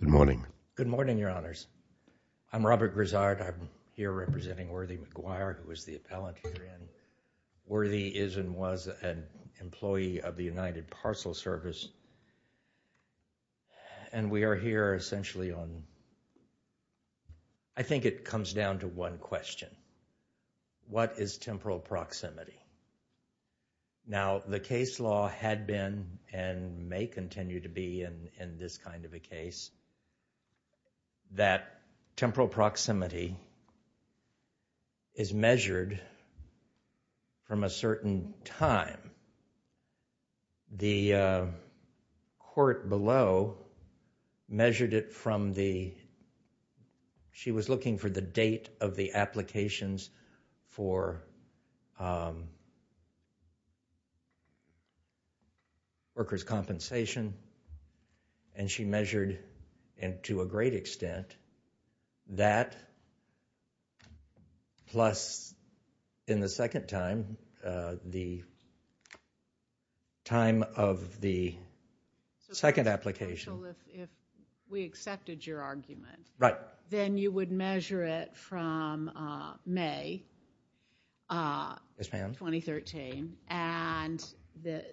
Good morning. Good morning, Your Honors. I'm Robert Grizzard. I'm here representing Worthy McGuire, who is the appellant herein. Worthy is and was an employee of the United Parcel Service, and we are here essentially on... I think it comes down to one question. What is temporal proximity? Now, the case law had been, and may continue to be in this kind of a case, that temporal proximity is measured from a certain time. The court below measured it from the... She was looking for the date of the applications for workers' compensation, and she measured, and to a great extent, that plus, in the second time, the time of the second application. So if we accepted your argument, then you would measure it from May 2013, and the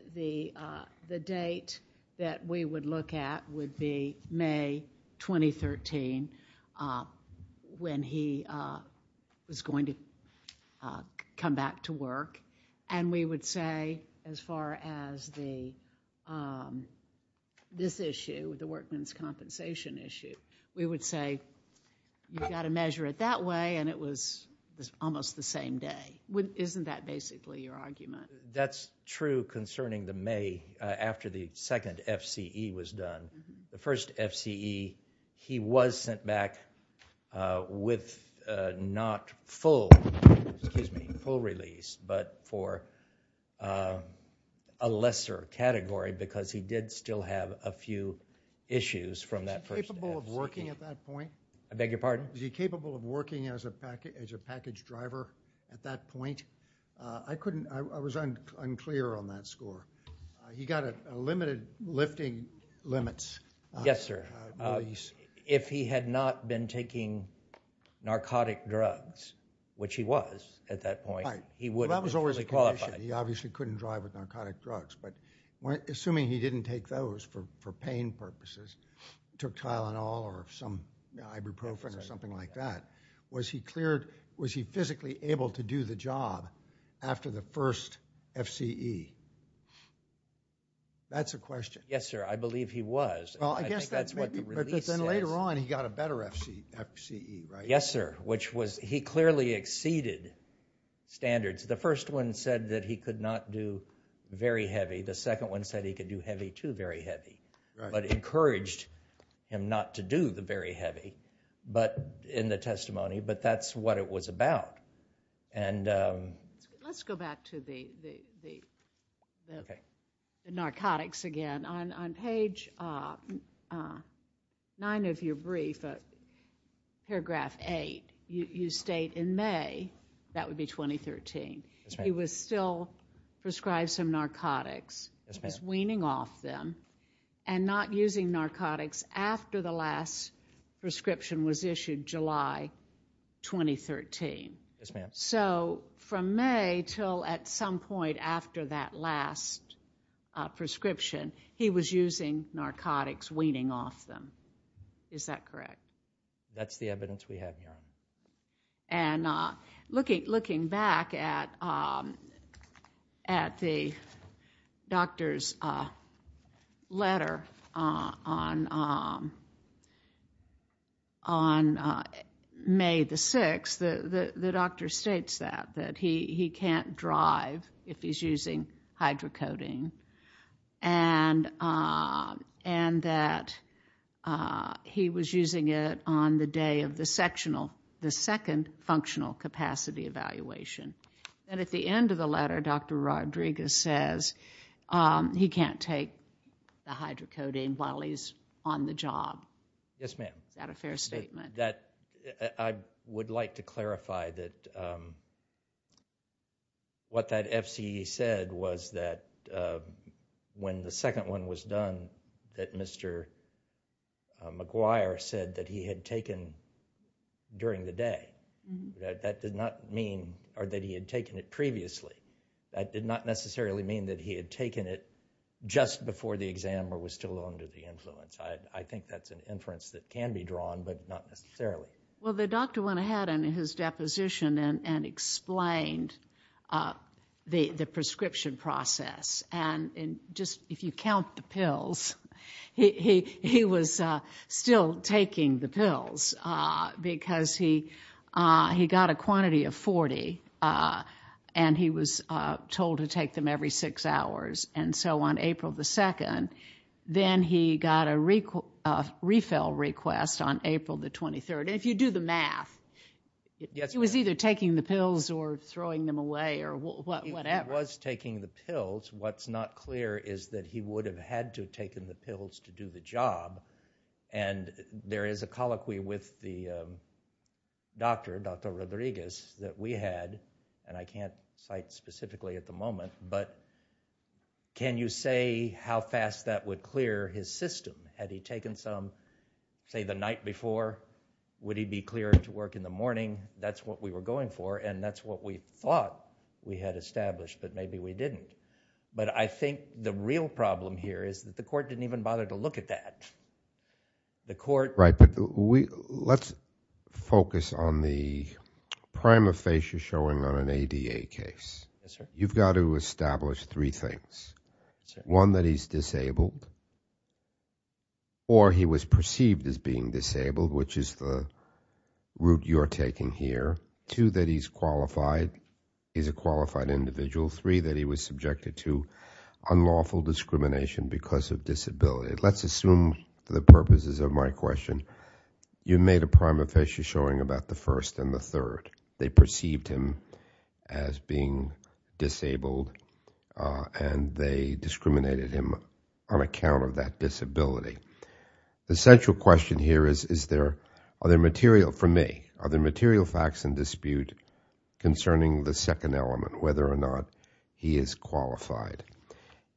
date that we would look at would be May 2013, when he was going to come back to work, and we would say, as far as this issue, the workmen's compensation issue, we would say, you've got to measure it that way, and it was almost the same day. Isn't that basically your argument? That's true concerning the May, after the second FCE, he was sent back with not full, excuse me, full release, but for a lesser category, because he did still have a few issues from that first FCE. Is he capable of working at that point? I beg your pardon? Is he capable of working as a package driver at that point? I was unclear on that score. He got a limited lifting limits. Yes, sir. If he had not been taking narcotic drugs, which he was at that point, he wouldn't be fully qualified. He obviously couldn't drive with narcotic drugs, but assuming he didn't take those for pain purposes, took Tylenol or some ibuprofen or something like that, was he physically able to do the job after the first FCE? That's a question. Yes, sir. I believe he was. Well, I guess that's what the release says. But then later on, he got a better FCE, right? Yes, sir. He clearly exceeded standards. The first one said that he could not do very heavy. The second one said he could do heavy to very heavy, but encouraged him not to do the very heavy in the testimony, but that's what it was about. Let's go back to the narcotics again. On page 9 of your brief, paragraph 8, you state in May, that would be 2013, he was still prescribed some narcotics, was weaning off them, and not using narcotics after the last prescription was issued July 2013. Yes, ma'am. So from May until at some point after that last prescription, he was using narcotics, weaning off them. Is that correct? That's the evidence we have, ma'am. And looking back at the doctor's letter on May the 6th, the doctor states that, that he can't drive if he's using hydrocoding, and that he was using it on the day of the sectional, the second functional capacity evaluation. And at the end of the letter, Dr. Rodriguez says he can't take the hydrocoding while he's on the job. Yes, ma'am. Is that a fair statement? I would like to clarify that what that FCE said was that when the second one was done, that Mr. McGuire said that he had taken during the day. That did not mean, or that he had taken it previously. That did not necessarily mean that he had taken it just before the exam or was still under the influence. I think that's an inference that can be drawn, but not necessarily. Well, the doctor went ahead in his deposition and explained the prescription process. And just, if you count the pills, he was still taking the pills because he got a quantity of 40, and he was told to take them every six hours. And so on April the 2nd, then he got a refill request on April the 23rd. And if you do the math, he was either taking the pills or throwing them away or whatever. He was taking the pills. What's not clear is that he would have had to have taken the pills to do the job. And there is a colloquy with the doctor, Dr. Rodriguez, that we had, and I can't cite specifically at the moment, but can you say how fast that would clear his system? Had he taken some, say, the night before, would he be cleared to work in the morning? That's what we were going for, and that's what we thought we had established, but maybe we didn't. But I think the real problem here is that the court didn't even bother to look at that. Right, but let's focus on the prima facie showing on an ADA case. You've got to establish three things. One, that he's disabled, or he was perceived as being disabled, which is the route you're taking here. Two, that he's qualified, he's a qualified individual. Three, that he was subjected to unlawful discrimination because of disability. Let's assume for the purposes of my question, you made a prima facie showing about the first and the third. They perceived him as being disabled, and they discriminated him on account of that disability. The central question here is, is there, are there material, for me, are there material facts in dispute concerning the second element, whether or not he is qualified?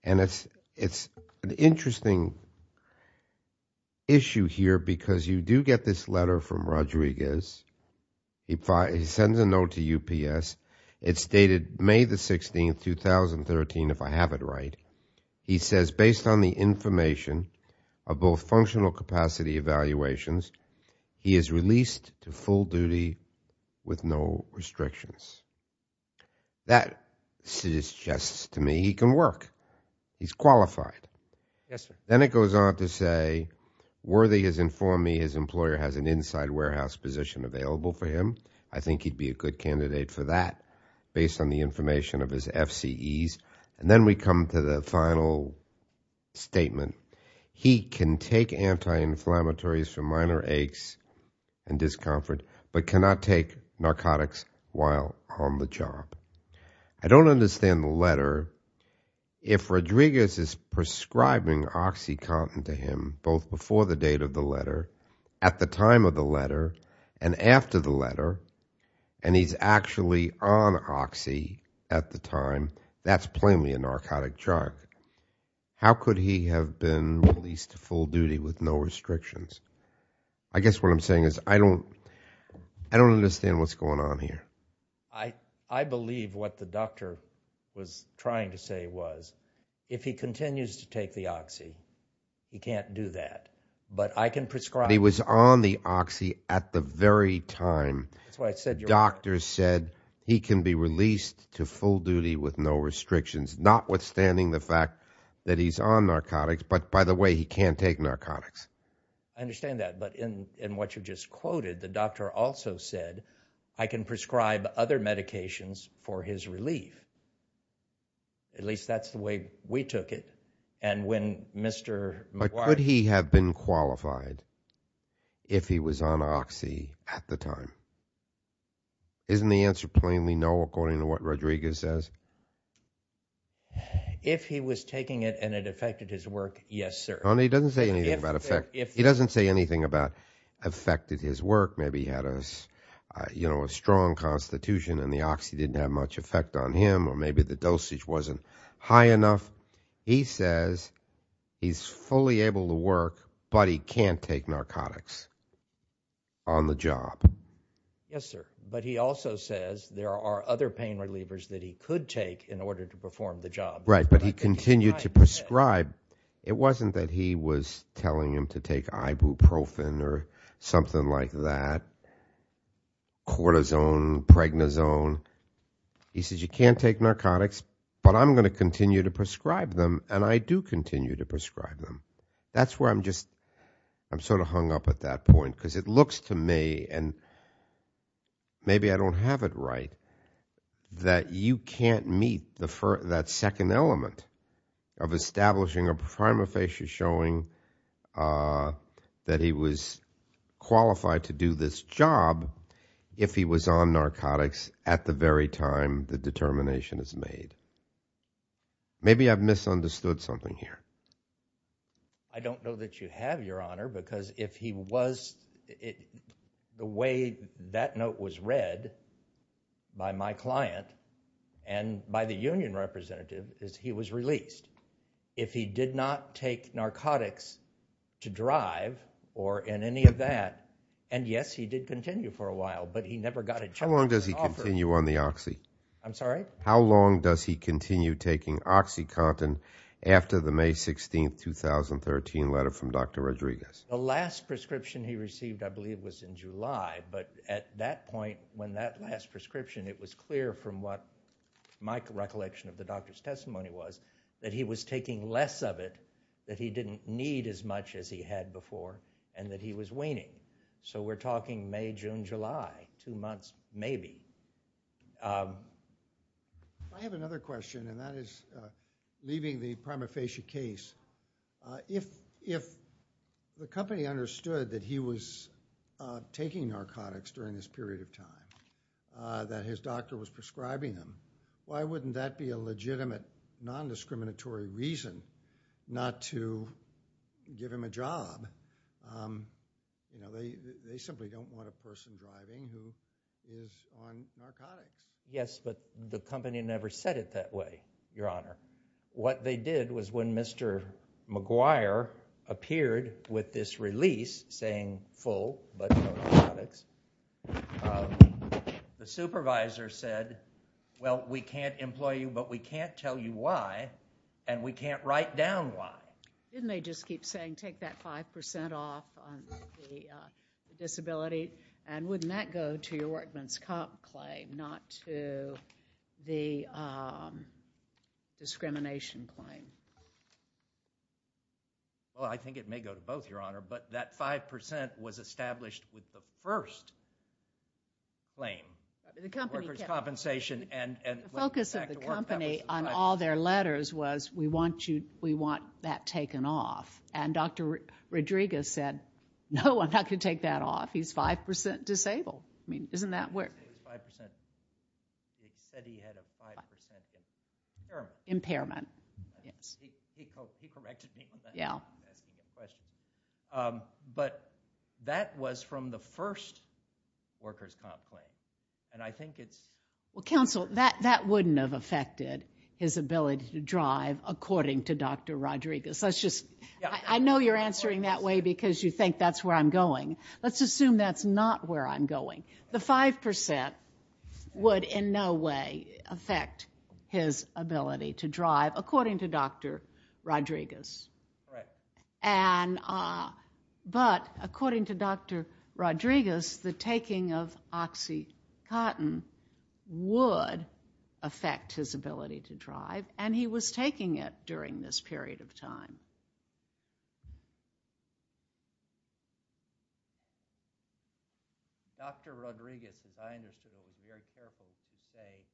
And it's an interesting issue here because you do get this letter from Rodriguez. He sends a note to UPS. It's dated May the 16th, 2013, if I have it right. He says, based on the information of both functional capacity evaluations, he is released to full duty with no restrictions. That suggests to me he can work. He's qualified. Yes, sir. Then it goes on to say, Worthy has informed me his employer has an inside warehouse position available for him. I think he'd be a good candidate for that based on the information of his FCEs. And then we come to the final statement. He can take anti-inflammatories for minor aches and discomfort, but cannot take narcotics while on the job. I don't understand the letter. If Rodriguez is prescribing OxyContin to him, both before the date of the letter, at the time of the letter, and after the letter, and he's actually on Oxy at the time, that's plainly a narcotic drug. How could he have been released to full duty with no restrictions? I guess what I'm saying is I don't understand what's going on here. I believe what the doctor was trying to say was, if he continues to take the Oxy, he can't do that. But I can prescribe. He was on the Oxy at the very time doctor said he can be released to full duty with no restrictions, notwithstanding the fact that he's on narcotics. But by the way, he can't take narcotics. I understand that. But in what you just quoted, the doctor also said, I can prescribe other medications for his relief. At least that's the way we took it. And when Mr. McGuire But could he have been qualified if he was on Oxy at the time? Isn't the answer plainly no, according to what Rodriguez says? If he was taking it and it affected his work, yes, sir. He doesn't say anything about effect. He doesn't say anything about affected his work. Maybe he had a strong constitution and the Oxy didn't have much effect on him or maybe the dosage wasn't high enough. He says he's fully able to work, but he can't take narcotics on the job. Yes, sir. But he also says there are other pain relievers that he could take in order to perform the job. Right. But he continued to prescribe. It wasn't that he was telling him to take ibuprofen or something like that, cortisone, pregnazone. He says you can't take narcotics, but I'm going to continue to prescribe them. And I do continue to prescribe them. That's where I'm just I'm sort of hung up at that point because it looks to me and maybe I don't have it right, that you can't meet that second element of establishing a prima facie showing that he was qualified to do this job if he was on narcotics at the very time the determination is made. Maybe I've misunderstood something here. I don't know that you have, Your Honor, because if he was, the way that note was read by my client and by the union representative is he was released. If he did not take narcotics to drive or in any of that, and yes, he did continue for a while, but he never got a job offer. How long does he continue on the Oxy? I'm sorry? How long does he continue taking OxyContin after the May 16, 2013 letter from Dr. Rodriguez? The last prescription he received I believe was in July, but at that point when that last prescription, it was clear from what my recollection of the doctor's testimony was that he was taking less of it, that he didn't need as much as he had before, and that he was weaning. We're talking May, June, July, two months maybe. I have another question, and that is leaving the prima facie case. If the company understood that he was taking narcotics during this period of time that his doctor was prescribing him, why wouldn't that be a legitimate non-discriminatory reason not to give him a job? They simply don't want a person driving who is on narcotics. Yes, but the company never said it that way, Your Honor. What they did was when Mr. McGuire appeared with this release saying full, but no narcotics, the supervisor said, well, we can't employ you, but we can't tell you why, and we can't write down why. Didn't they just keep saying take that 5% off on the disability, and wouldn't that go to your workman's comp claim, not to the discrimination claim? Well, I think it may go to both, Your Honor, but that 5% was established with the first claim, workers' compensation. The focus of the company on all their letters was we want that taken off, and Dr. Rodriguez said, no, I'm not going to take that off. He's 5% disabled. I mean, isn't that weird? He said he had a 5% impairment. Impairment, yes. He corrected me on that. Yeah. But that was from the first workers' comp claim, and I think it's... Well, counsel, that wouldn't have affected his ability to drive, according to Dr. Rodriguez. I know you're answering that way because you think that's where I'm going. Let's assume that's not where I'm going. The 5% would in no way affect his ability to drive, according to Dr. Rodriguez. Right. But according to Dr. Rodriguez, the taking of OxyContin would affect his ability to drive, and he was taking it during this period of time. Dr. Rodriguez, as I understood it, was very careful to say,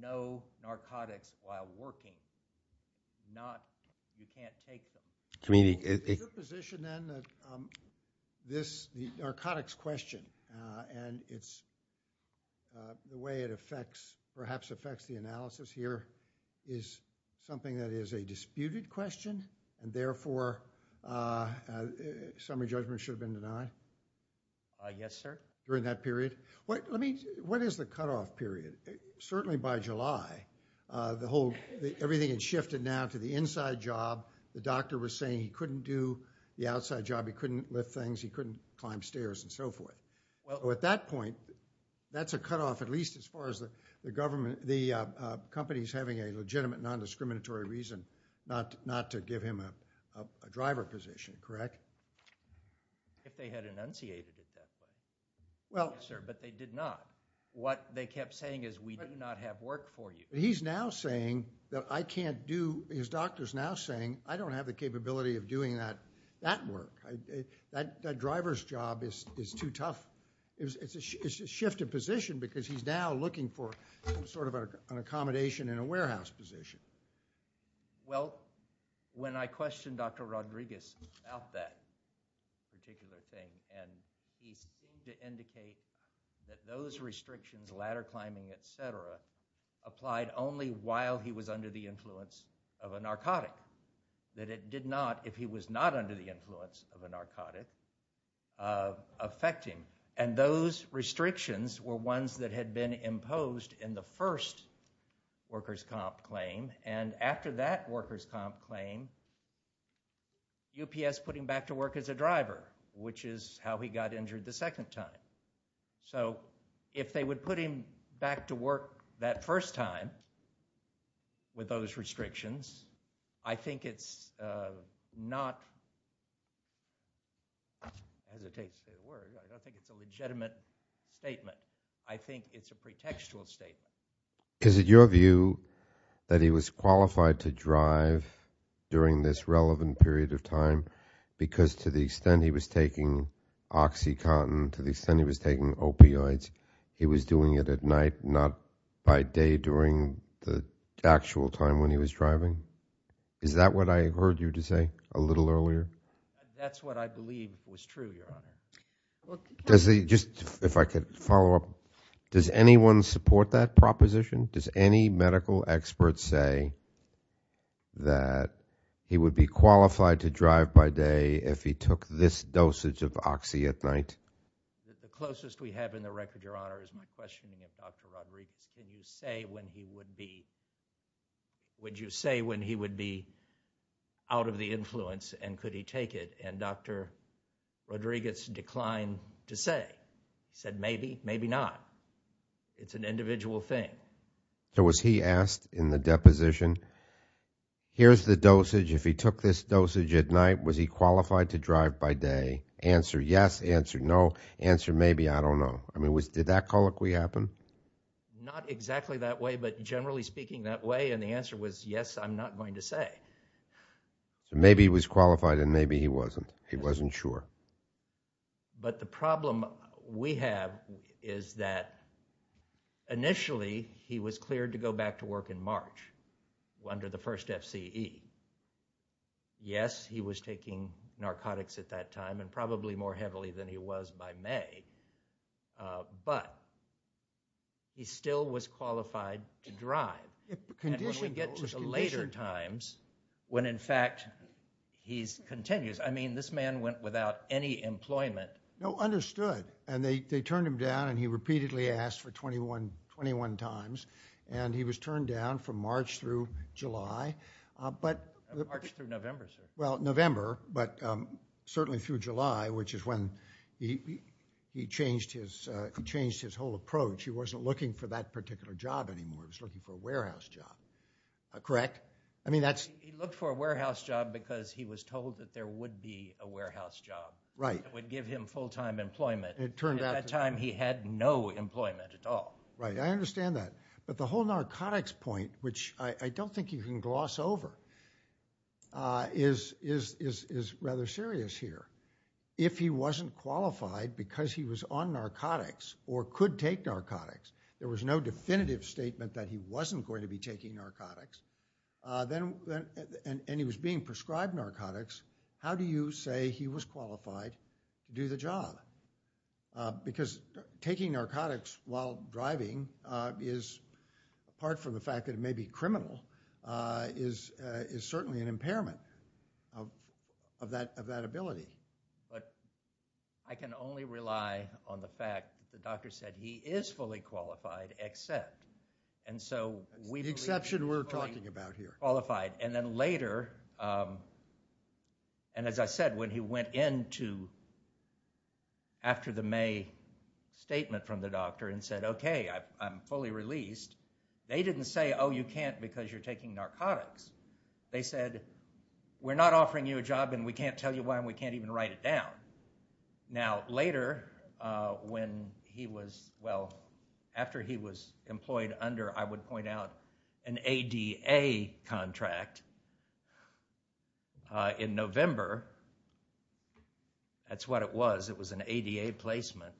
no narcotics while working. Not, you can't take them. I mean, he... Is your position, then, that this narcotics question, and the way it affects, perhaps affects the analysis here, is something that is a disputed question, and therefore, summary judgment should have been denied? Yes, sir. During that period? What is the cutoff period? Certainly by July, everything had shifted now to the inside job. The doctor was saying he couldn't do the outside job, he couldn't lift things, he couldn't climb stairs, and so forth. Well, at that point, that's a cutoff at least as far as the government, the company's having a legitimate non-discriminatory reason not to give him a driver position, correct? If they had enunciated it that way. Well... Yes, sir, but they did not. What they kept saying is, we do not have work for you. He's now saying that I can't do, his doctor's now saying, I don't have the capability of doing that work. That driver's job is too tough. It's a shifted position because he's now looking for sort of an accommodation in a warehouse position. Well, when I questioned Dr. Rodriguez about that particular thing, and he seemed to indicate that those restrictions, ladder climbing, et cetera, applied only while he was under the influence of a narcotic. That it did not, if he was not under the influence of a narcotic, affect him. And those restrictions were ones that had been imposed in the first workers' comp claim, and after that workers' comp claim, UPS put him back to work as a driver, which is how he got injured the second time. So, if they would put him back to work that first time with those restrictions, I think it's not, as it takes to be a word, I don't think it's a legitimate statement. I think it's a pretextual statement. Is it your view that he was qualified to drive during this relevant period of time because to the extent he was taking Oxycontin, to the extent he was taking opioids, he was doing it at night, not by day during the actual time when he was driving? Is that what I heard you to say a little earlier? That's what I believe was true, Your Honor. Does he, just, if I could follow up, does anyone support that proposition? Does any medical expert say that he would be qualified to drive by day if he took this dosage of Oxy at night? The closest we have in the record, Your Honor, is my questioning of Dr. Rodriguez. Can you say when he would be, would you say when he would be out of the influence and could he take it? And Dr. Rodriguez declined to say, said maybe, maybe not. It's an individual thing. So, was he asked in the deposition, here's the dosage, if he took this dosage at night, was he qualified to drive by day? Answer yes, answer no, answer maybe, I don't know. I mean, did that colloquy happen? Not exactly that way, but generally speaking that way and the answer was yes, I'm not going to say. Maybe he was qualified and maybe he wasn't. He wasn't sure. But the problem we have is that initially he was cleared to go back to work in March under the first FCE. Yes, he was taking narcotics at that time and probably more heavily than he was by May, but he still was qualified to drive. And when we get to the later times, when in fact he continues, I mean, this man went without any employment. No, understood. And they turned him down and he repeatedly asked for 21 times and he was in March through July. March through November, sir. Well, November, but certainly through July, which is when he changed his whole approach. He wasn't looking for that particular job anymore. He was looking for a warehouse job. Correct? He looked for a warehouse job because he was told that there would be a warehouse job. Right. That would give him full-time employment. It turned out... At that time he had no employment at all. Right. I understand that. But the whole narcotics point, which I don't think you can gloss over, is rather serious here. If he wasn't qualified because he was on narcotics or could take narcotics, there was no definitive statement that he wasn't going to be taking narcotics, and he was being prescribed narcotics, how do you say he was qualified to do the job? Because taking narcotics while driving is, apart from the fact that it may be criminal, is certainly an impairment of that ability. But I can only rely on the fact that the doctor said he is fully qualified except. The exception we're talking about here. Qualified. And then later, and as I said, when he went into, after the May statement from the doctor and said, okay, I'm fully released, they didn't say, oh, you can't because you're taking narcotics. They said, we're not offering you a job and we can't tell you why and we can't even write it down. Now, later, when he was, well, after he was employed under, I would point out, an ADA contract in November, that's what it was. It was an ADA placement.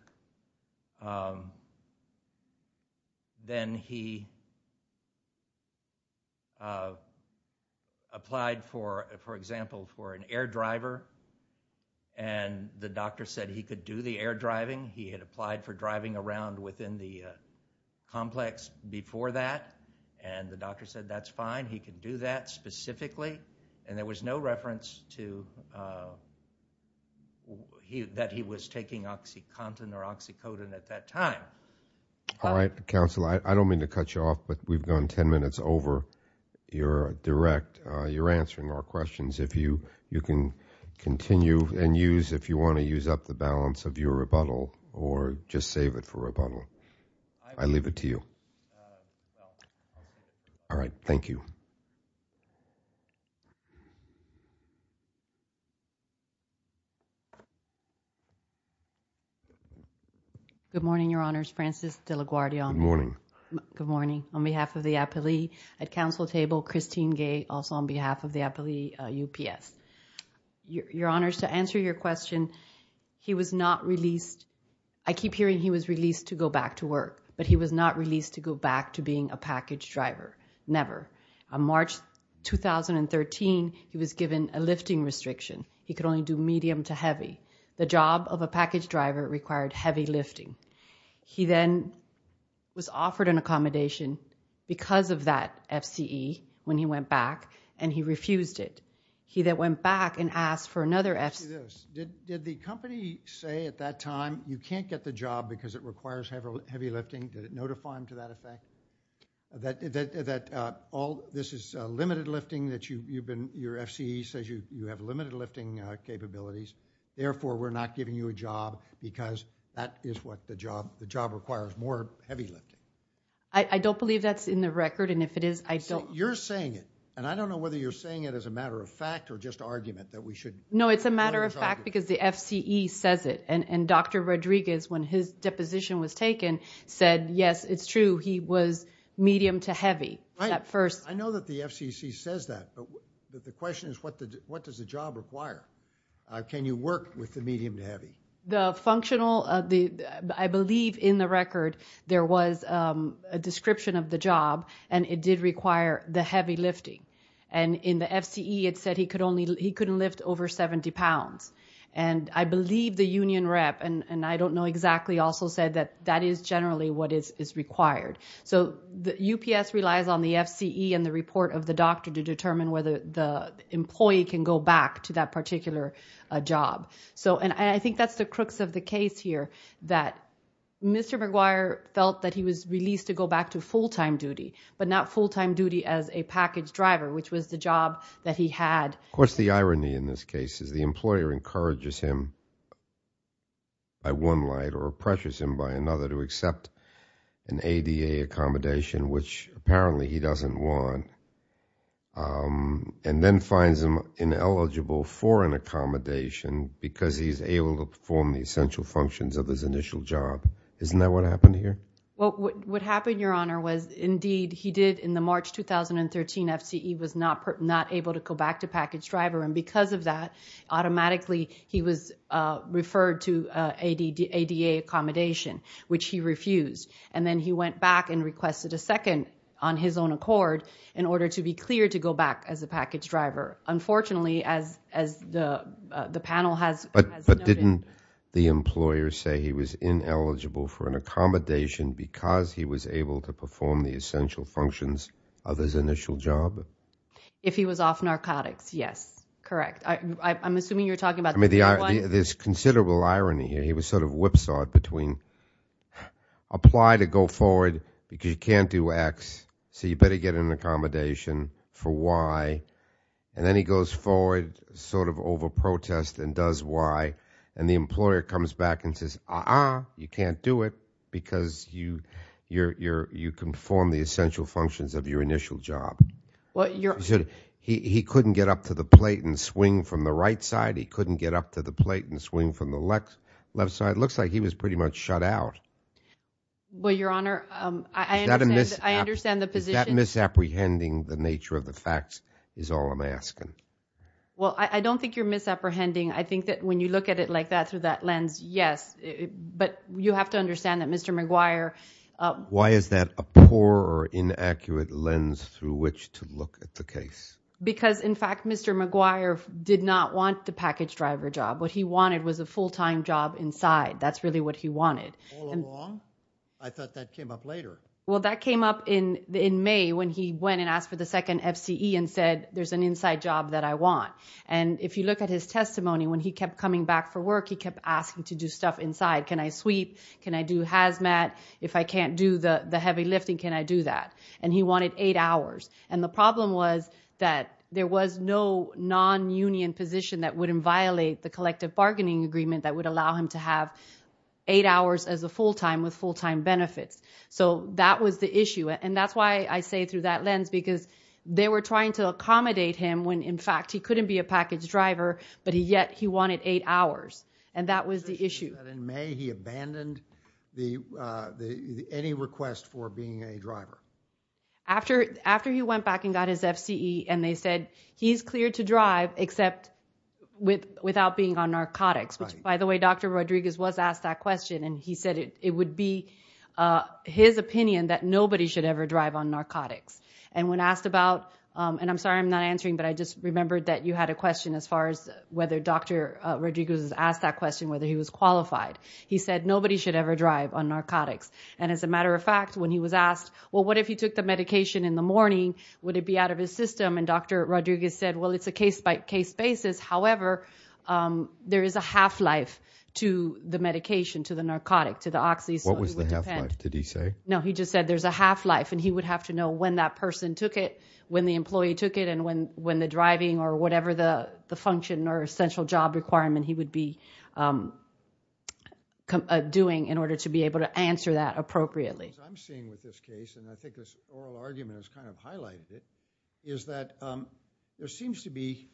Then he applied, for example, for an air driver, and the doctor said he could do the air driving. He had applied for driving around within the complex before that, and the doctor said that's fine. He could do that specifically. And there was no reference to that he was taking OxyContin or OxyCodone at that time. All right, counsel, I don't mean to cut you off, but we've gone ten minutes over your direct, you're answering our questions. If you can continue and use, if you want to use up the balance of your rebuttal or just save it for rebuttal. I leave it to you. All right, thank you. Good morning, Your Honors. Frances De La Guardia. Good morning. Good morning. On behalf of the appellee at counsel table, Christine Gay, also on behalf of the appellee UPS. Your Honors, to answer your question, he was not released. I keep hearing he was released to go back to work, but he was not released to go back to being a package driver. Never. On March 2013, he was given a lifting restriction. He could only do medium to heavy. The job of a package driver required heavy lifting. He then was offered an accommodation because of that FCE when he went back, and he refused it. He then went back and asked for another FCE. Did the company say at that time you can't get the job because it requires heavy lifting? Did it notify him to that effect? This is limited lifting. Your FCE says you have limited lifting capabilities. Therefore, we're not giving you a job because that is what the job requires, more heavy lifting. I don't believe that's in the record, and if it is, I don't – So you're saying it, and I don't know whether you're saying it as a matter of fact or just argument that we should – No, it's a matter of fact because the FCE says it, and Dr. Rodriguez, when his deposition was taken, said, yes, it's true, he was medium to heavy at first. I know that the FCC says that, but the question is what does the job require? Can you work with the medium to heavy? The functional – I believe in the record there was a description of the job, and it did require the heavy lifting, and in the FCE it said he couldn't lift over 70 pounds, and I believe the union rep, and I don't know exactly, also said that that is generally what is required. So UPS relies on the FCE and the report of the doctor to determine whether the employee can go back to that particular job, and I think that's the crux of the case here, that Mr. McGuire felt that he was released to go back to full-time duty, but not full-time duty as a package driver, which was the job that he had. Of course, the irony in this case is the employer encourages him by one light or pressures him by another to accept an ADA accommodation, which apparently he doesn't want, and then finds him ineligible for an accommodation because he's able to perform the essential functions of his initial job. Isn't that what happened here? Well, what happened, Your Honor, was indeed he did in the March 2013 FCE was not able to go back to package driver, and because of that, automatically he was referred to ADA accommodation, which he refused, and then he went back and requested a second on his own accord in order to be cleared to go back as a package driver. Unfortunately, as the panel has noted- Because he was able to perform the essential functions of his initial job? If he was off narcotics, yes, correct. I'm assuming you're talking about- I mean, there's considerable irony here. He was sort of whipsawed between apply to go forward because you can't do X, so you better get an accommodation for Y, and then he goes forward sort of over protest and does Y, and the employer comes back and says, uh-uh, you can't do it because you conformed the essential functions of your initial job. He couldn't get up to the plate and swing from the right side? He couldn't get up to the plate and swing from the left side? It looks like he was pretty much shut out. Well, Your Honor, I understand the position- Is that misapprehending the nature of the facts is all I'm asking? Well, I don't think you're misapprehending. I think that when you look at it like that through that lens, yes, but you have to understand that Mr. Maguire- Why is that a poor or inaccurate lens through which to look at the case? Because, in fact, Mr. Maguire did not want the package driver job. What he wanted was a full-time job inside. That's really what he wanted. All along? I thought that came up later. Well, that came up in May when he went and asked for the second FCE and said there's an inside job that I want, and if you look at his testimony, when he kept coming back for work, he kept asking to do stuff inside. Can I sweep? Can I do hazmat? If I can't do the heavy lifting, can I do that? And he wanted eight hours. And the problem was that there was no non-union position that wouldn't violate the collective bargaining agreement that would allow him to have eight hours as a full-time with full-time benefits. So that was the issue, and that's why I say through that lens, because they were trying to accommodate him when, in fact, he couldn't be a package driver, but yet he wanted eight hours, and that was the issue. So you're saying that in May he abandoned any request for being a driver? After he went back and got his FCE and they said he's cleared to drive except without being on narcotics, which, by the way, Dr. Rodriguez was asked that question, and he said it would be his opinion that nobody should ever drive on narcotics. And when asked about, and I'm sorry I'm not answering, but I just remembered that you had a question as far as whether Dr. Rodriguez was asked that question, whether he was qualified. He said nobody should ever drive on narcotics. And as a matter of fact, when he was asked, well, what if he took the medication in the morning? Would it be out of his system? And Dr. Rodriguez said, well, it's a case-by-case basis. However, there is a half-life to the medication, to the narcotic, to the oxy. What was the half-life, did he say? No, he just said there's a half-life, and he would have to know when that person took it, when the employee took it, and when the driving or whatever the function or essential job requirement he would be doing in order to be able to answer that appropriately. What I'm seeing with this case, and I think this oral argument has kind of highlighted it, is that there seems to be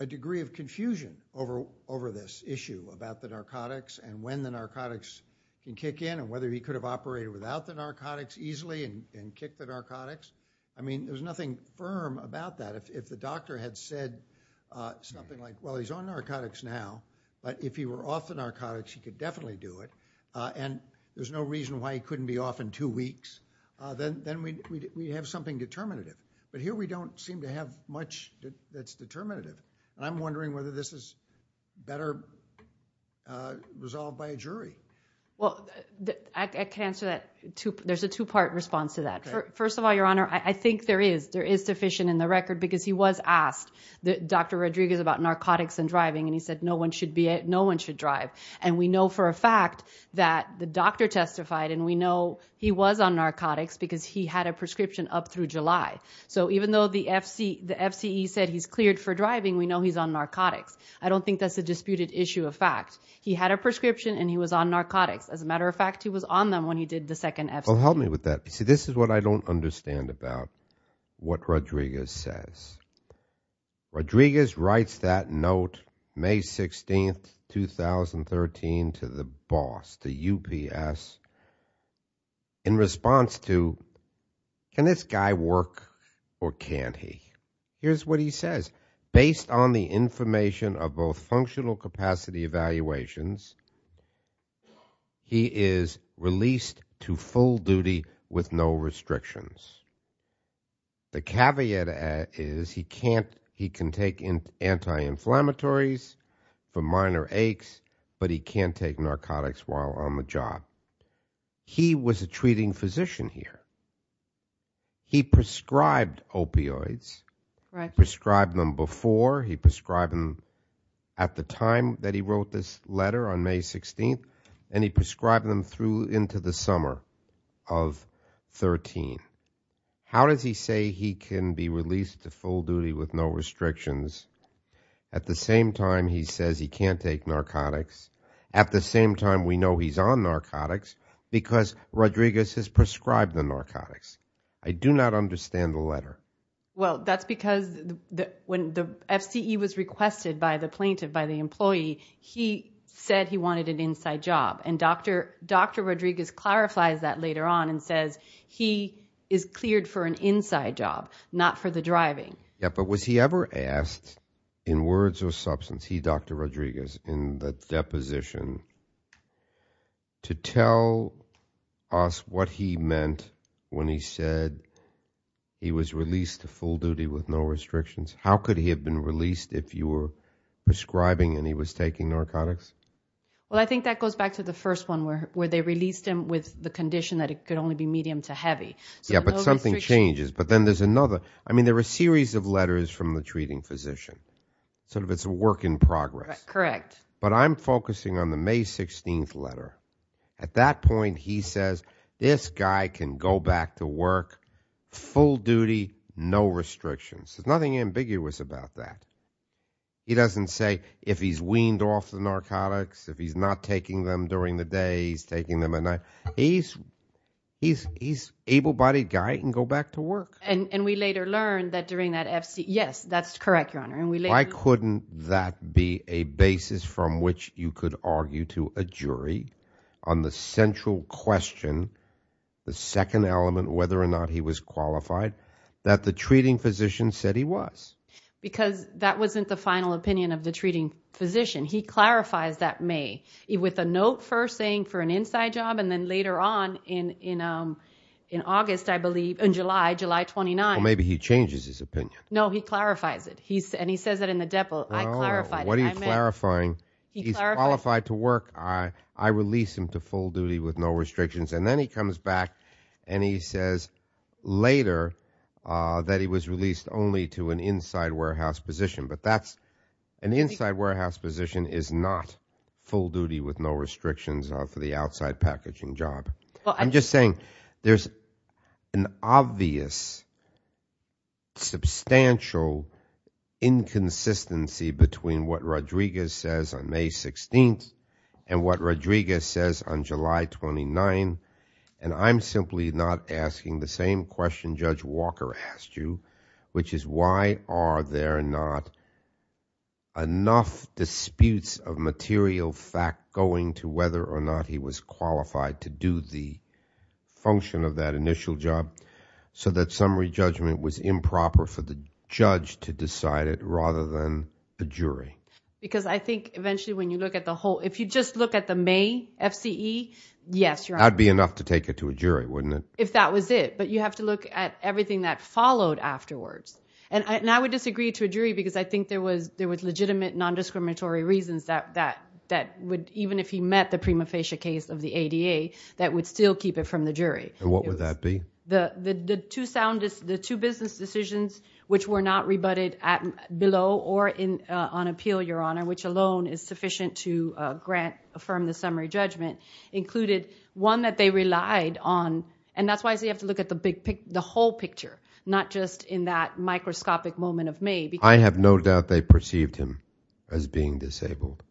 a degree of confusion over this issue about the narcotics and when the narcotics can kick in and whether he could have operated without the narcotics easily and kicked the narcotics. I mean, there's nothing firm about that. If the doctor had said something like, well, he's on narcotics now, but if he were off the narcotics, he could definitely do it, and there's no reason why he couldn't be off in two weeks, then we'd have something determinative. But here we don't seem to have much that's determinative, and I'm wondering whether this is better resolved by a jury. Well, I can answer that. There's a two-part response to that. First of all, Your Honor, I think there is sufficient in the record, because he was asked, Dr. Rodriguez, about narcotics and driving, and he said no one should drive, and we know for a fact that the doctor testified, and we know he was on narcotics because he had a prescription up through July. So even though the FCE said he's cleared for driving, we know he's on narcotics. I don't think that's a disputed issue of fact. He had a prescription, and he was on narcotics. As a matter of fact, he was on them when he did the second FCE. Well, help me with that. See, this is what I don't understand about what Rodriguez says. Rodriguez writes that note May 16th, 2013, to the boss, the UPS, in response to, can this guy work or can't he? Here's what he says. Based on the information of both functional capacity evaluations, he is released to full duty with no restrictions. The caveat is he can take anti-inflammatories for minor aches, but he can't take narcotics while on the job. He was a treating physician here. He prescribed opioids. He prescribed them before. He prescribed them at the time that he wrote this letter on May 16th, and he prescribed them through into the summer of 13. How does he say he can be released to full duty with no restrictions at the same time he says he can't take narcotics, at the same time we know he's on narcotics, because Rodriguez has prescribed the narcotics? I do not understand the letter. Well, that's because when the FCE was requested by the plaintiff, by the employee, he said he wanted an inside job. And Dr. Rodriguez clarifies that later on and says he is cleared for an inside job, not for the driving. Yeah, but was he ever asked, in words or substance, he, Dr. Rodriguez, in the deposition, to tell us what he meant when he said he was released to full duty with no restrictions? How could he have been released if you were prescribing and he was taking narcotics? Well, I think that goes back to the first one where they released him with the condition that it could only be medium to heavy. Yeah, but something changes. But then there's another. I mean, there are a series of letters from the treating physician. Sort of it's a work in progress. Correct. But I'm focusing on the May 16th letter. At that point, he says this guy can go back to work, full duty, no restrictions. There's nothing ambiguous about that. He doesn't say if he's weaned off the narcotics, if he's not taking them during the day, he's taking them at night. He's able-bodied guy. He can go back to work. And we later learned that during that F.C. Yes, that's correct, Your Honor. Why couldn't that be a basis from which you could argue to a jury on the central question, the second element, whether or not he was qualified, that the treating physician said he was? Because that wasn't the final opinion of the treating physician. He clarifies that May with a note first saying for an inside job, and then later on in August, I believe, in July, July 29th. Well, maybe he changes his opinion. No, he clarifies it. And he says it in the depot. I clarified it. What are you clarifying? He's qualified to work. I release him to full duty with no restrictions. And then he comes back and he says later that he was released only to an inside warehouse position. But that's an inside warehouse position is not full duty with no restrictions for the outside packaging job. I'm just saying there's an obvious substantial inconsistency between what Rodriguez says on May 16th and what Rodriguez says on July 29th. And I'm simply not asking the same question Judge Walker asked you, which is why are there not enough disputes of material fact going to whether or not he was qualified to do the function of that initial job so that summary judgment was improper for the judge to decide it rather than the jury? Because I think eventually when you look at the whole, if you just look at the May FCE, yes. That would be enough to take it to a jury, wouldn't it? If that was it. But you have to look at everything that followed afterwards. And I would disagree to a jury because I think there was legitimate nondiscriminatory reasons that would, even if he met the prima facie case of the ADA, that would still keep it from the jury. And what would that be? The two business decisions which were not rebutted below or on appeal, Your Honor, which alone is sufficient to grant, affirm the summary judgment, included one that they relied on. And that's why you have to look at the whole picture, not just in that microscopic moment of May. I have no doubt they perceived him as being disabled.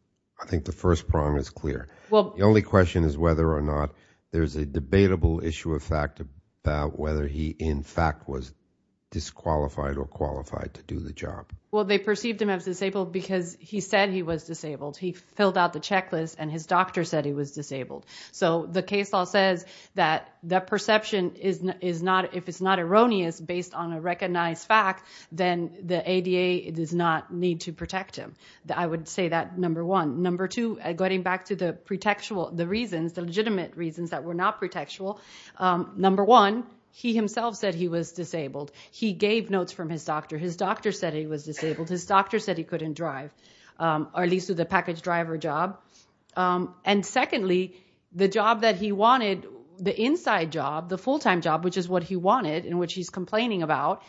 I think the first prong is clear. The only question is whether or not there's a debatable issue of fact about whether he in fact was disqualified or qualified to do the job. Well, they perceived him as disabled because he said he was disabled. He filled out the checklist and his doctor said he was disabled. So the case law says that the perception is not, if it's not erroneous based on a recognized fact, then the ADA does not need to protect him. I would say that, number one. Number two, going back to the reasons, the legitimate reasons that were not pretextual, number one, he himself said he was disabled. He gave notes from his doctor. His doctor said he was disabled. His doctor said he couldn't drive, or at least do the package driver job. And secondly, the job that he wanted, the inside job, the full-time job, which is what he wanted and which he's complaining about,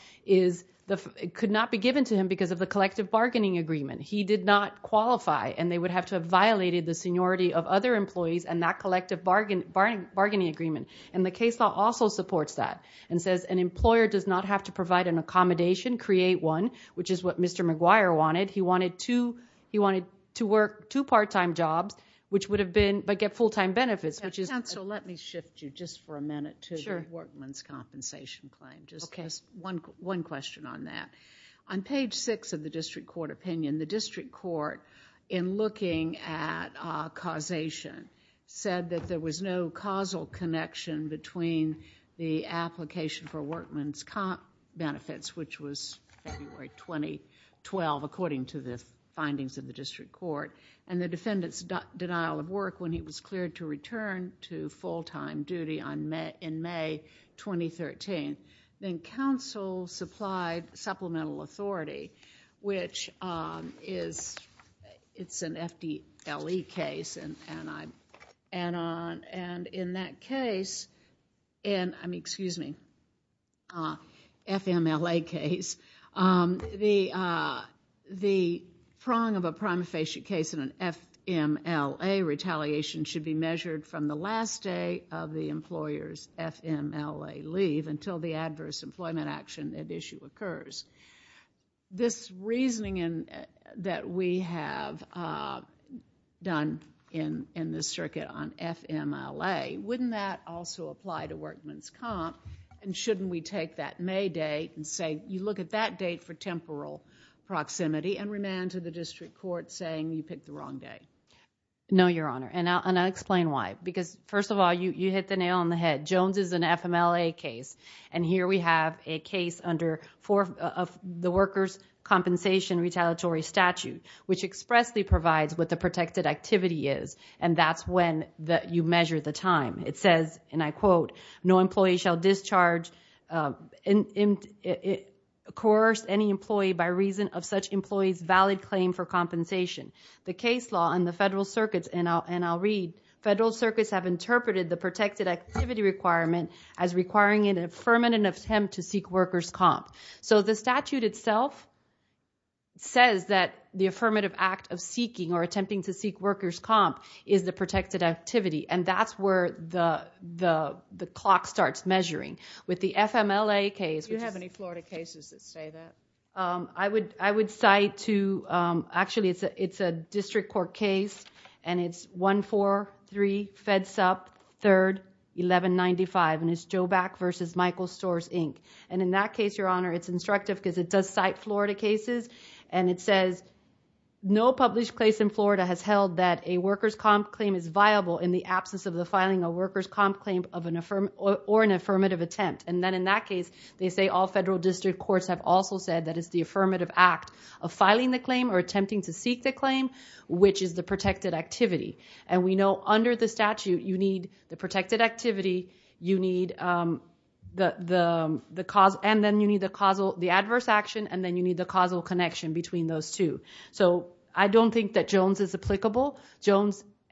could not be given to him because of the collective bargaining agreement. He did not qualify, and they would have to have violated the seniority of other employees and that collective bargaining agreement. And the case law also supports that and says an employer does not have to provide an accommodation, create one, which is what Mr. McGuire wanted. He wanted to work two part-time jobs, but get full-time benefits. Counsel, let me shift you just for a minute to the workman's compensation claim. Just one question on that. On page six of the district court opinion, the district court, in looking at causation, said that there was no causal connection between the application for workman's comp benefits, which was February 2012, according to the findings of the district court, and the defendant's denial of work when he was cleared to return to full-time duty in May 2013. Then counsel supplied supplemental authority, which is an FDLE case. And in that case, I mean, excuse me, FMLA case, the prong of a prima facie case in an FMLA retaliation should be measured from the last day of the employer's FMLA leave until the adverse employment action at issue occurs. This reasoning that we have done in this circuit on FMLA, wouldn't that also apply to workman's comp? And shouldn't we take that May date and say, you look at that date for temporal proximity and remand to the district court saying you picked the wrong day? No, Your Honor, and I'll explain why. Because, first of all, you hit the nail on the head. Jones is an FMLA case, and here we have a case under the workers' compensation retaliatory statute, which expressly provides what the protected activity is, and that's when you measure the time. It says, and I quote, no employee shall discharge, coerce any employee by reason of such employee's valid claim for compensation. The case law in the federal circuits, and I'll read, federal circuits have interpreted the protected activity requirement as requiring an affirmative attempt to seek workers' comp. So the statute itself says that the affirmative act of seeking or attempting to seek workers' comp is the protected activity, and that's where the clock starts measuring. With the FMLA case, which is- Do you have any Florida cases that say that? I would cite two. Actually, it's a district court case, and it's 143-FEDSUP-3-1195, and it's Joback v. Michael Storrs, Inc. And in that case, Your Honor, it's instructive because it does cite Florida cases, and it says no published case in Florida has held that a workers' comp claim is viable in the absence of the filing of a workers' comp claim or an affirmative attempt. And then in that case, they say all federal district courts have also said that it's the affirmative act of filing the claim or attempting to seek the claim, which is the protected activity. And we know under the statute you need the protected activity, you need the adverse action, and then you need the causal connection between those two. So I don't think that Jones is applicable.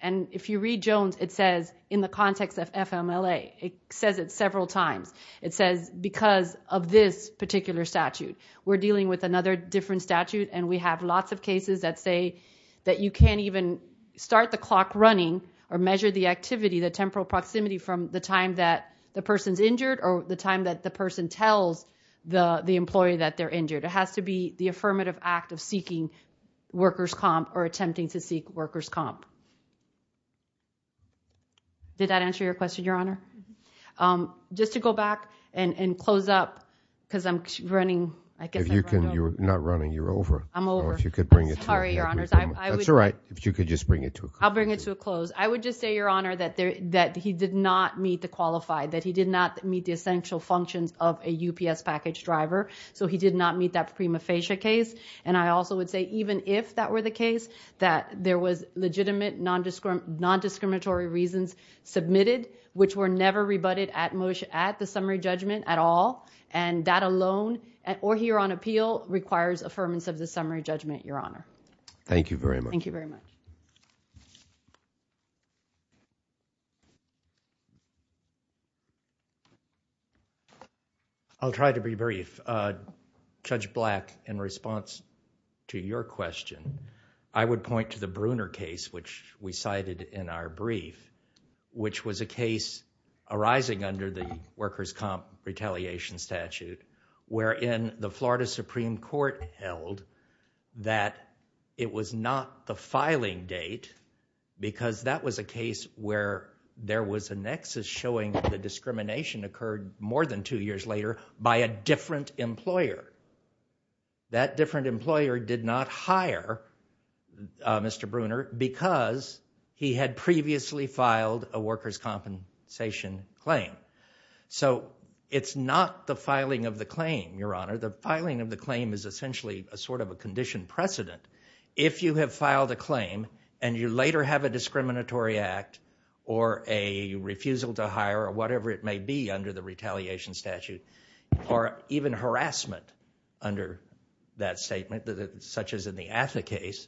And if you read Jones, it says, in the context of FMLA, it says it several times. It says because of this particular statute. We're dealing with another different statute, and we have lots of cases that say that you can't even start the clock running or measure the activity, the temporal proximity, from the time that the person's injured or the time that the person tells the employee that they're injured. It has to be the affirmative act of seeking workers' comp or attempting to seek workers' comp. Did that answer your question, Your Honor? Just to go back and close up, because I'm running. If you can, you're not running. You're over. I'm over. Sorry, Your Honors. That's all right. If you could just bring it to a close. I'll bring it to a close. I would just say, Your Honor, that he did not meet the qualified, that he did not meet the essential functions of a UPS package driver, so he did not meet that prima facie case. And I also would say even if that were the case, that there was legitimate nondiscriminatory reasons submitted which were never rebutted at the summary judgment at all, and that alone, or here on appeal, requires affirmance of the summary judgment, Your Honor. Thank you very much. Thank you very much. I'll try to be brief. Judge Black, in response to your question, I would point to the Bruner case which we cited in our brief, which was a case arising under the workers' comp retaliation statute, wherein the Florida Supreme Court held that it was not the filing date because that was a case where there was a nexus showing that the discrimination occurred more than two years later by a different employer. That different employer did not hire Mr. Bruner because he had previously filed a workers' compensation claim. So it's not the filing of the claim, Your Honor. The filing of the claim is essentially a sort of a condition precedent. If you have filed a claim and you later have a discriminatory act or a refusal to hire or whatever it may be under the retaliation statute or even harassment under that statement, such as in the Atha case,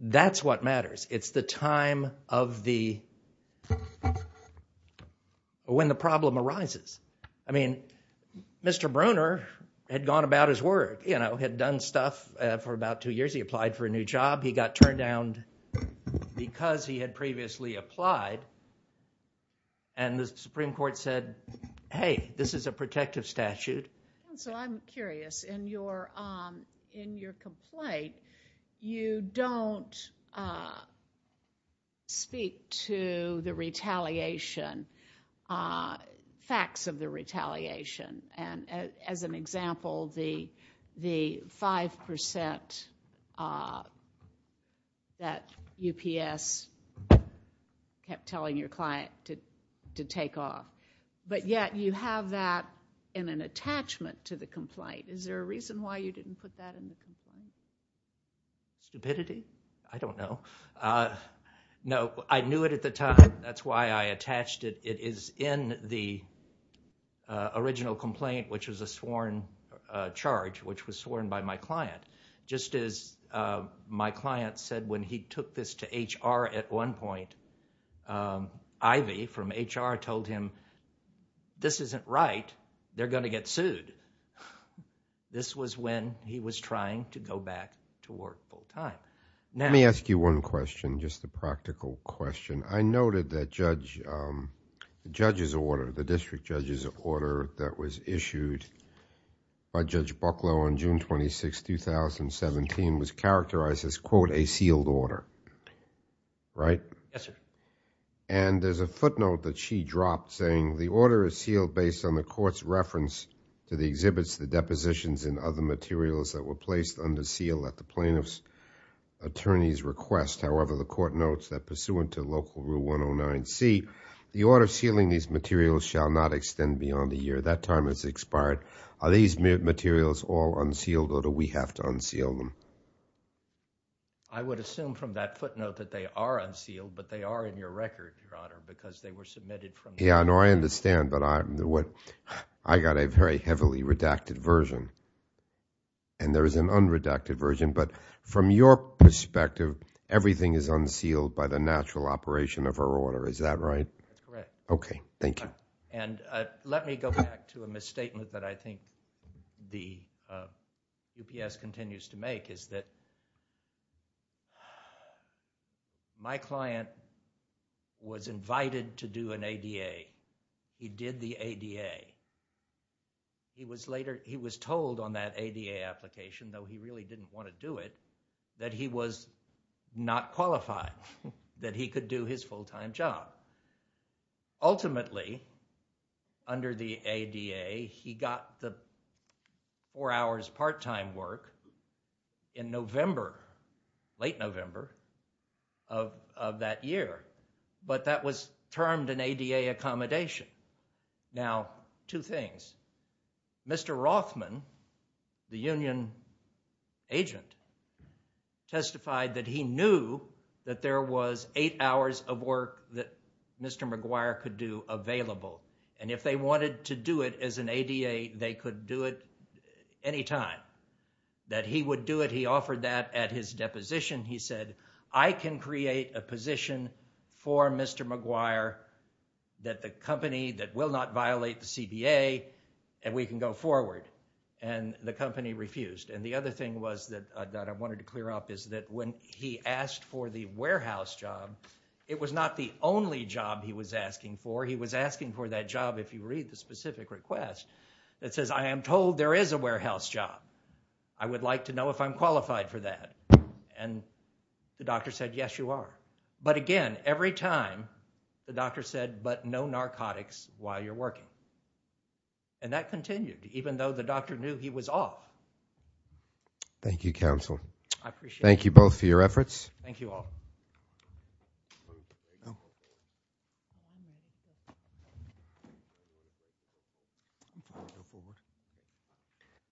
that's what matters. It's the time of the – when the problem arises. I mean Mr. Bruner had gone about his work, had done stuff for about two years. He applied for a new job. He got turned down because he had previously applied. And the Supreme Court said, hey, this is a protective statute. So I'm curious. In your complaint, you don't speak to the retaliation, facts of the retaliation. As an example, the 5% that UPS kept telling your client to take off. But yet you have that in an attachment to the complaint. Is there a reason why you didn't put that in the complaint? Stupidity? I don't know. No, I knew it at the time. That's why I attached it. It is in the original complaint, which was a sworn charge, which was sworn by my client. Just as my client said when he took this to HR at one point, Ivy from HR told him, this isn't right. They're going to get sued. This was when he was trying to go back to work full time. Let me ask you one question, just a practical question. I noted that the district judge's order that was issued by Judge Bucklow on June 26, 2017 was characterized as, quote, a sealed order, right? Yes, sir. And there's a footnote that she dropped saying, the order is sealed based on the court's reference to the exhibits, the depositions, and other materials that were placed under seal at the plaintiff's attorney's request. However, the court notes that pursuant to Local Rule 109C, the order sealing these materials shall not extend beyond a year. That time has expired. Are these materials all unsealed or do we have to unseal them? I would assume from that footnote that they are unsealed, but they are in your record, Your Honor, because they were submitted from you. Yeah, no, I understand, but I got a very heavily redacted version, and there is an unredacted version. But from your perspective, everything is unsealed by the natural operation of her order, is that right? That's correct. Okay, thank you. And let me go back to a misstatement that I think the UPS continues to make, is that my client was invited to do an ADA. He did the ADA. He was told on that ADA application, though he really didn't want to do it, that he was not qualified, that he could do his full-time job. Ultimately, under the ADA, he got the four hours part-time work in November, late November of that year, but that was termed an ADA accommodation. Now, two things. Mr. Rothman, the union agent, testified that he knew that there was eight hours of work that Mr. McGuire could do available, and if they wanted to do it as an ADA, they could do it any time. That he would do it, he offered that at his deposition. He said, I can create a position for Mr. McGuire that the company that will not violate the CBA, and we can go forward. And the company refused. And the other thing that I wanted to clear up is that when he asked for the warehouse job, it was not the only job he was asking for. He was asking for that job, if you read the specific request, that says, I am told there is a warehouse job. I would like to know if I'm qualified for that. And the doctor said, yes, you are. But again, every time, the doctor said, but no narcotics while you're working. And that continued, even though the doctor knew he was off. Thank you, counsel. Thank you both for your efforts. Thank you all.